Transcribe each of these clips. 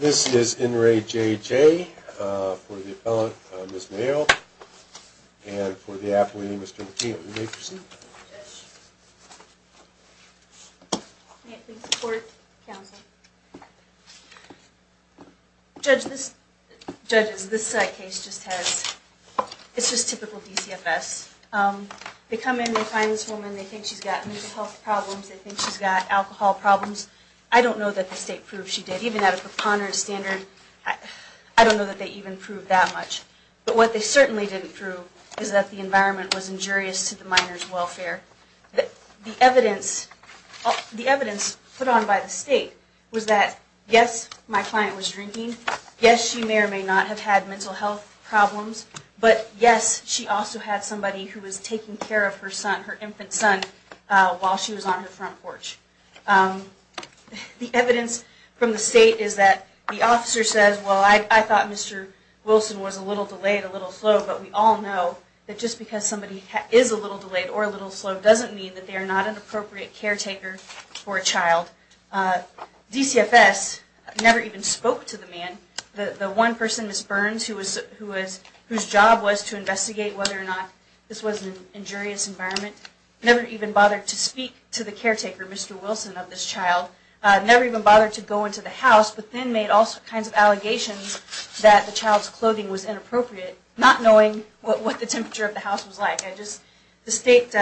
This is in re J.J. for the appellant, Ms. Mayo, and for the appellee, Mr. McKee, it would be a pleasure to see you. Thank you, Judge. May I please report to counsel? Judge, this, Judge, this side case just has, it's just typical DCFS. They come in, they find this woman, they think she's got mental health problems, they think she's got alcohol problems. I don't know that the state proved she did. Even at a preponderance standard, I don't know that they even proved that much. But what they certainly didn't prove is that the environment was injurious to the minor's welfare. The evidence, the evidence put on by the state was that yes, my client was drinking. Yes, she may or may not have had mental health problems. But yes, she also had somebody who was taking care of her son, her infant son, while she was on her front porch. The evidence from the state is that the officer says, well, I thought Mr. Wilson was a little delayed, a little slow, but we all know that just because somebody is a little delayed or a little slow doesn't mean that they are not an appropriate caretaker for a child. DCFS never even spoke to the man. The one person, Ms. Burns, whose job was to investigate whether or not this was an injurious environment, never even bothered to speak to the caretaker, Mr. Wilson, of this child, never even bothered to go into the house, but then made all kinds of allegations that the child's clothing was inappropriate, not knowing what the temperature of the house was like. The state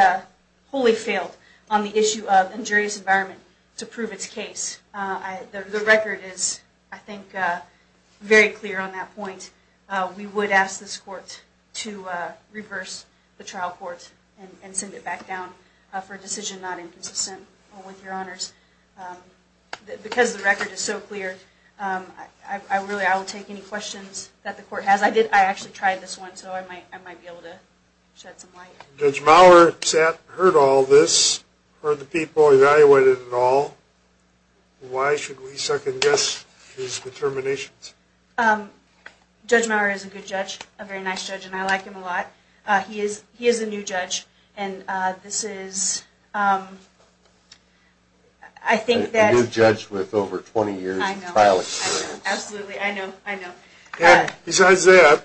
wholly failed on the issue of injurious environment to prove its case. The record is, I think, very clear on that point. We would ask this court to reverse the trial court and send it back down for a decision not inconsistent with your honors. Because the record is so clear, I will take any questions that the court has. I actually tried this one, so I might be able to shed some light. Judge Maurer heard all this, heard the people, evaluated it all. Why should we second guess his determinations? Judge Maurer is a good judge, a very nice judge, and I like him a lot. He is a new judge, and this is, I think that... A new judge with over 20 years of trial experience. Absolutely, I know, I know. Besides that,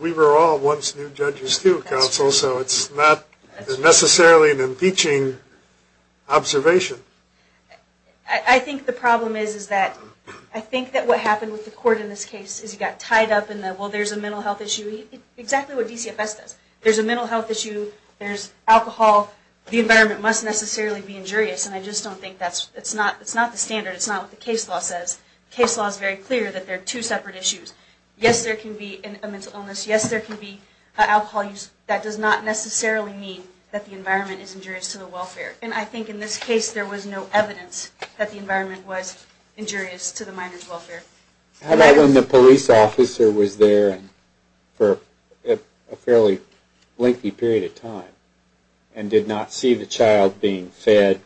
we were all once new judges too, Counsel, so it's not necessarily an impeaching observation. I think the problem is that... I think that what happened with the court in this case is it got tied up in the, well, there's a mental health issue. Exactly what DCFS does. There's a mental health issue, there's alcohol, the environment must necessarily be injurious. And I just don't think that's... it's not the standard, it's not what the case law says. The case law is very clear that there are two separate issues. Yes, there can be a mental illness. Yes, there can be alcohol use. That does not necessarily mean that the environment is injurious to the welfare. And I think in this case there was no evidence that the environment was injurious to the minor's welfare. How about when the police officer was there for a fairly lengthy period of time and did not see the child being fed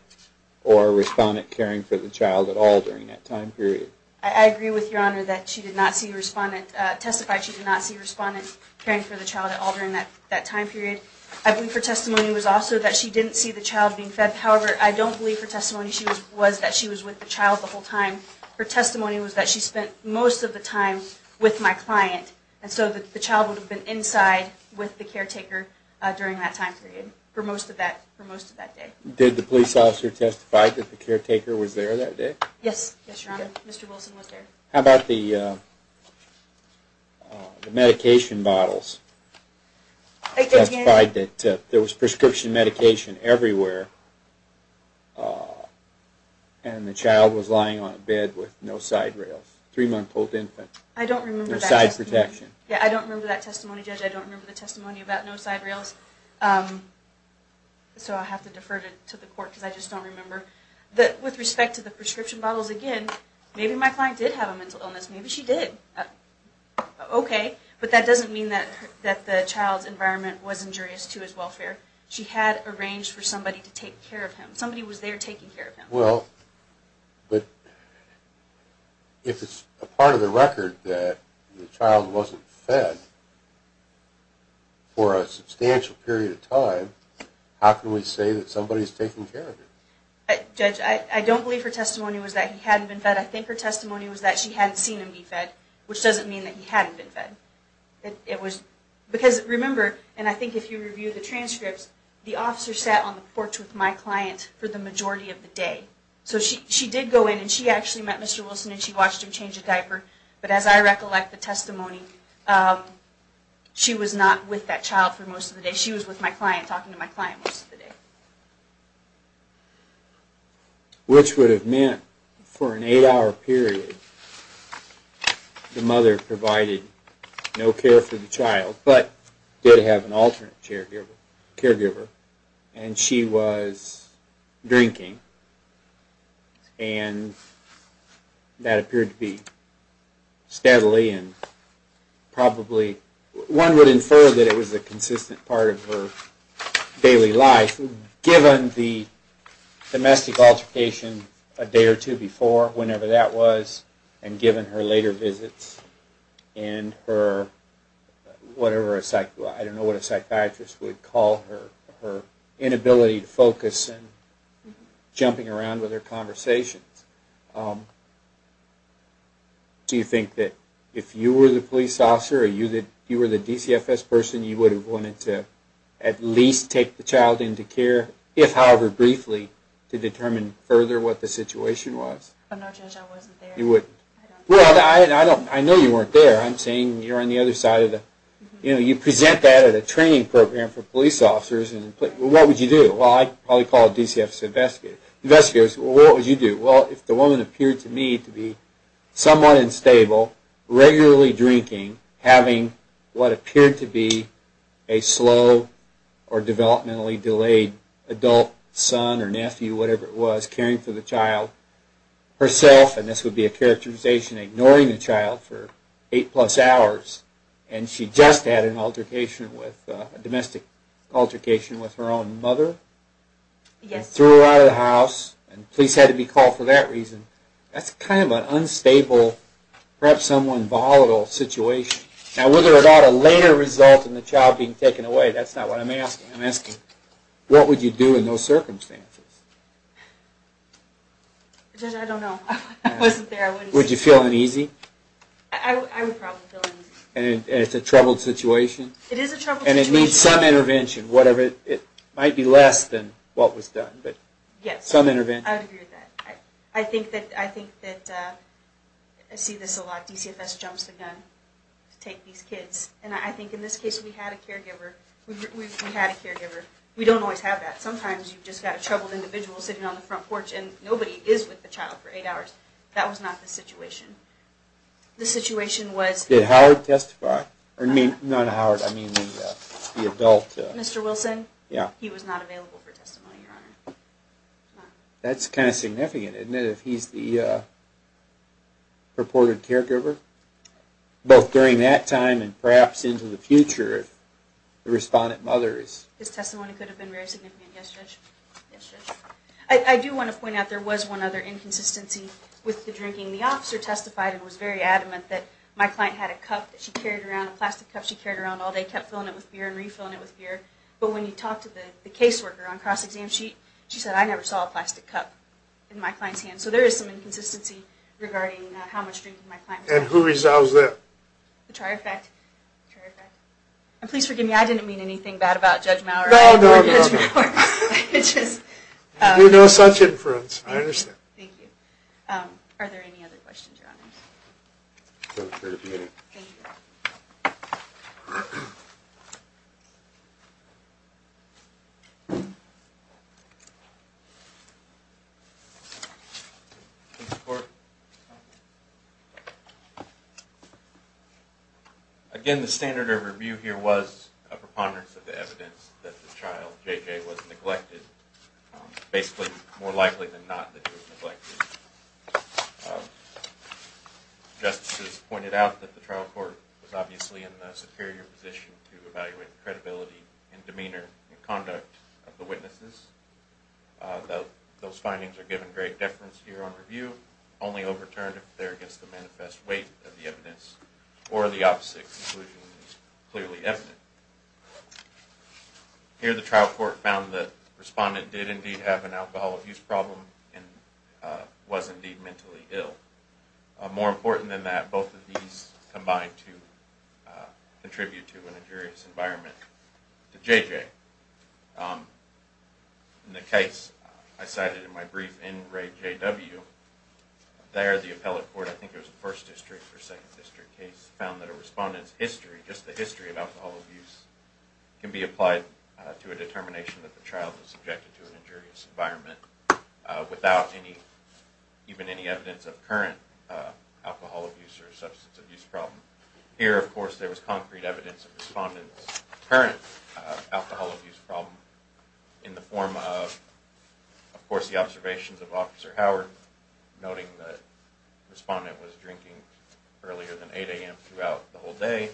or a respondent caring for the child at all during that time period? I agree with Your Honor that she did not see a respondent... testified she did not see a respondent caring for the child at all during that time period. I believe her testimony was also that she didn't see the child being fed. However, I don't believe her testimony was that she was with the child the whole time. Her testimony was that she spent most of the time with my client. And so the child would have been inside with the caretaker during that time period for most of that day. Did the police officer testify that the caretaker was there that day? Yes, Your Honor. Mr. Wilson was there. How about the medication bottles? He testified that there was prescription medication everywhere and the child was lying on a bed with no side rails. Three-month-old infant. No side protection. I don't remember that testimony, Judge. I don't remember the testimony about no side rails. So I'll have to defer to the court because I just don't remember. With respect to the prescription bottles, again, maybe my client did have a mental illness. Maybe she did. Okay. But that doesn't mean that the child's environment was injurious to his welfare. She had arranged for somebody to take care of him. Somebody was there taking care of him. Well, but if it's a part of the record that the child wasn't fed for a substantial period of time, how can we say that somebody's taking care of him? Judge, I don't believe her testimony was that he hadn't been fed. I think her testimony was that she hadn't seen him be fed, which doesn't mean that he hadn't been fed. Because remember, and I think if you review the transcripts, the officer sat on the porch with my client for the majority of the day. So she did go in and she actually met Mr. Wilson and she watched him change a diaper. But as I recollect the testimony, she was not with that child for most of the day. She was with my client, talking to my client most of the day. Which would have meant for an eight-hour period, the mother provided no care for the child, but did have an alternate caregiver, and she was drinking. And that appeared to be steadily and probably, one would infer that it was a consistent part of her daily life, given the domestic altercation a day or two before, whenever that was, and given her later visits and her, whatever a, I don't know what a psychiatrist would call her, her inability to focus and jumping around with her conversations. Do you think that if you were the police officer, or you were the DCFS person, you would have wanted to at least take the child into care, if however briefly, to determine further what the situation was? No, Judge, I wasn't there. You wouldn't? Well, I know you weren't there. I'm saying you're on the other side of the, you know, you present that at a training program for police officers, and what would you do? Well, I'd probably call a DCFS investigator. Well, what would you do? Well, if the woman appeared to me to be somewhat unstable, regularly drinking, having what appeared to be a slow or developmentally delayed adult son or nephew, whatever it was, caring for the child herself, and this would be a characterization ignoring the child for eight plus hours, and she just had an altercation with, a domestic altercation with her own mother, and threw her out of the house, and police had to be called for that reason, that's kind of an unstable, perhaps somewhat volatile situation. Now, whether it ought to later result in the child being taken away, that's not what I'm asking. I'm asking, what would you do in those circumstances? Judge, I don't know. I wasn't there. Would you feel uneasy? And it's a troubled situation? It is a troubled situation. And it needs some intervention, whatever, it might be less than what was done, but some intervention. Yes, I would agree with that. I think that, I see this a lot, DCFS jumps the gun to take these kids, and I think in this case we had a caregiver, we had a caregiver. We don't always have that. Sometimes you've just got a troubled individual sitting on the front porch, and nobody is with the child for eight hours. That was not the situation. The situation was... Did Howard testify? Not Howard, I mean the adult. Mr. Wilson? Yeah. He was not available for testimony, Your Honor. That's kind of significant, isn't it, if he's the purported caregiver? Both during that time and perhaps into the future, if the respondent mother is... His testimony could have been very significant, yes, Judge. Yes, Judge. I do want to point out there was one other inconsistency with the drinking. The officer testified and was very adamant that my client had a cup that she carried around, a plastic cup she carried around all day, kept filling it with beer and refilling it with beer. But when you talk to the caseworker on cross-exam sheet, she said, I never saw a plastic cup in my client's hand. So there is some inconsistency regarding how much drink my client was having. And who resolves that? The trier fact. And please forgive me, I didn't mean anything bad about Judge Maurer. No, no, no. It's just... You know such inference. I understand. Thank you. Are there any other questions, Your Honor? No questions. Thank you. Thank you. Again, the standard of review here was a preponderance of the evidence that the child, JJ, was neglected. Basically, more likely than not that he was neglected. Justices pointed out that the trial court was obviously in the superior position to evaluate the credibility and demeanor and conduct of the witnesses. Those findings are given great deference here on review, only overturned if they're against the manifest weight of the evidence or the opposite conclusion is clearly evident. Here the trial court found that the respondent did indeed have an alcohol abuse problem and was indeed mentally ill. More important than that, both of these combined to contribute to an injurious environment to JJ. In the case I cited in my brief in Ray J.W., there the appellate court, I think it was the first district or second district case, found that a respondent's history, just the history of alcohol abuse, can be applied to a determination that the child was subjected to an injurious environment without even any evidence of current alcohol abuse or substance abuse problem. Here, of course, there was concrete evidence of the respondent's current alcohol abuse problem in the form of, of course, the observations of Officer Howard, noting that the respondent was drinking earlier than 8 a.m. throughout the whole day,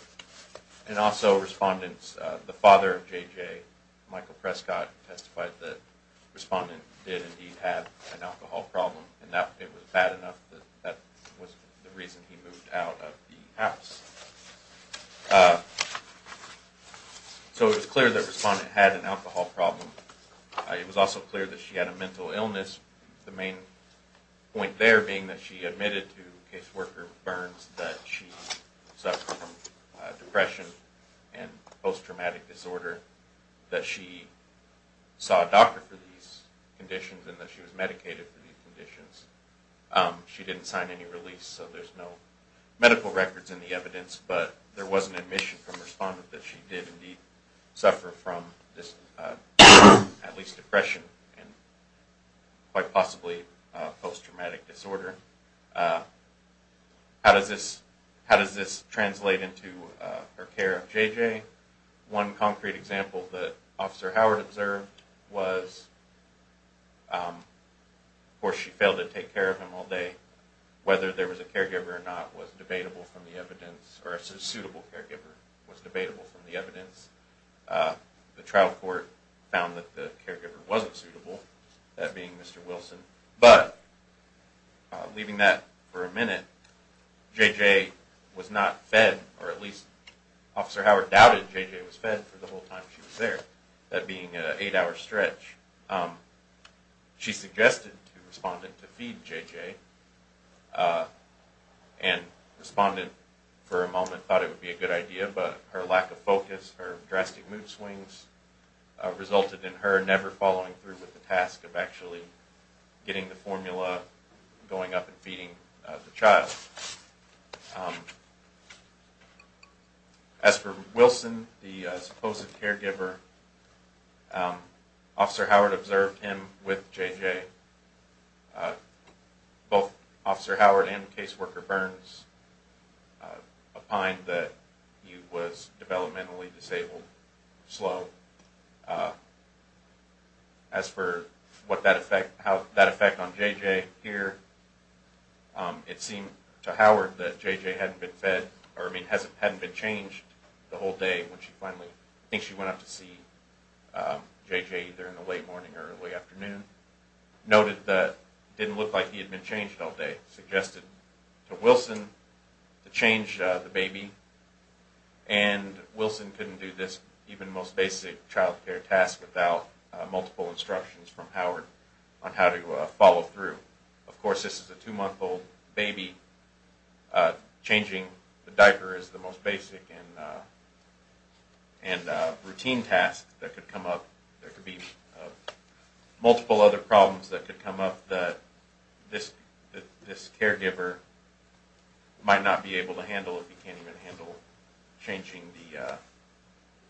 and also respondents, the father of JJ, Michael Prescott, testified that the respondent did indeed have an alcohol problem, and that it was bad enough that that was the reason he moved out of the house. So it was clear that the respondent had an alcohol problem. It was also clear that she had a mental illness, the main point there being that she admitted to caseworker Burns that she suffered from depression and post-traumatic disorder, that she saw a doctor for these conditions, and that she was medicated for these conditions. She didn't sign any release, so there's no medical records in the evidence, but there was an admission from the respondent that she did indeed suffer from this, at least depression, and quite possibly post-traumatic disorder. How does this, how does this translate into her care of JJ? One concrete example that Officer Howard observed was, of course she failed to take care of him all day, whether there was a caregiver or not was debatable from the evidence, or a suitable caregiver was debatable from the evidence. The trial court found that the caregiver wasn't suitable, that being Mr. Wilson, but leaving that for a minute, JJ was not fed, or at least Officer Howard doubted JJ was fed for the whole time she was there, that being an eight-hour stretch. She suggested to the respondent to feed JJ, and the respondent for a moment thought it would be a good idea, but her lack of focus, her drastic mood swings, resulted in her never following through with the task of actually getting the formula, going up and feeding the child. As for Wilson, the supposed caregiver, Officer Howard observed him with JJ. Both Officer Howard and Caseworker Burns opined that he was developmentally disabled, slow. As for that effect on JJ here, it seemed to Howard that JJ hadn't been fed, or I mean hadn't been changed the whole day when she finally, I think she went up to see JJ either in the late morning or early afternoon, noted that it didn't look like he had been changed all day, suggested to Wilson to change the baby, and Wilson couldn't do this even most basic childcare task without multiple instructions from Howard on how to follow through. Of course, this is a two-month-old baby. Changing the diaper is the most basic and routine task that could come up. There could be multiple other problems that could come up that this caregiver might not be able to handle if he can't even handle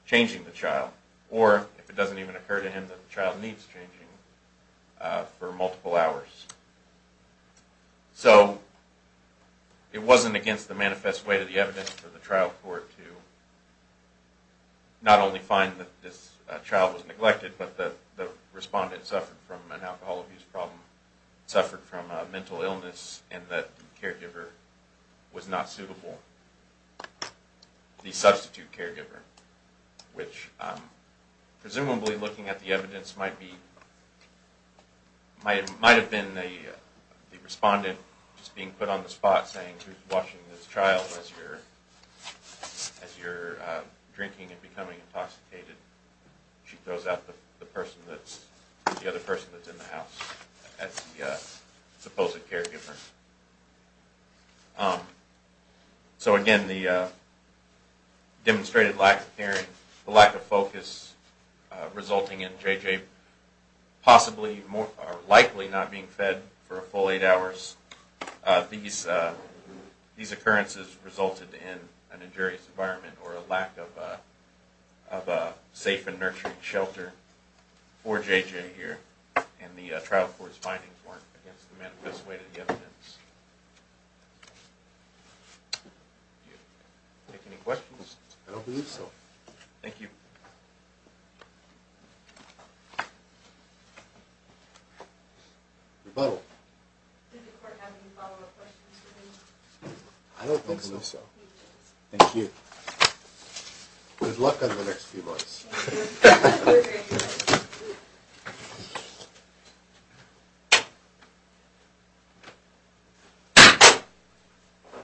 changing the child, or if it doesn't even occur to him that the child needs changing for multiple hours. So it wasn't against the manifest way to the evidence for the trial court to not only find that this child was neglected, but that the respondent suffered from an alcohol abuse problem, suffered from a mental illness, and that the caregiver was not suitable, the substitute caregiver, which presumably looking at the evidence might have been the respondent just being put on the spot saying, who's watching this child as you're drinking and becoming intoxicated. She throws out the other person that's in the house as the supposed caregiver. So again, the demonstrated lack of focus resulting in J.J. possibly or likely not being fed for a full eight hours. These occurrences resulted in an injurious environment or a lack of a safe and nurturing shelter for J.J. here, and the trial court's findings weren't against the manifest way to the evidence. Any questions? I don't believe so. Thank you. Rebuttal. Did the court have any follow-up questions for me? I don't think so. Thank you. Good luck on the next few months.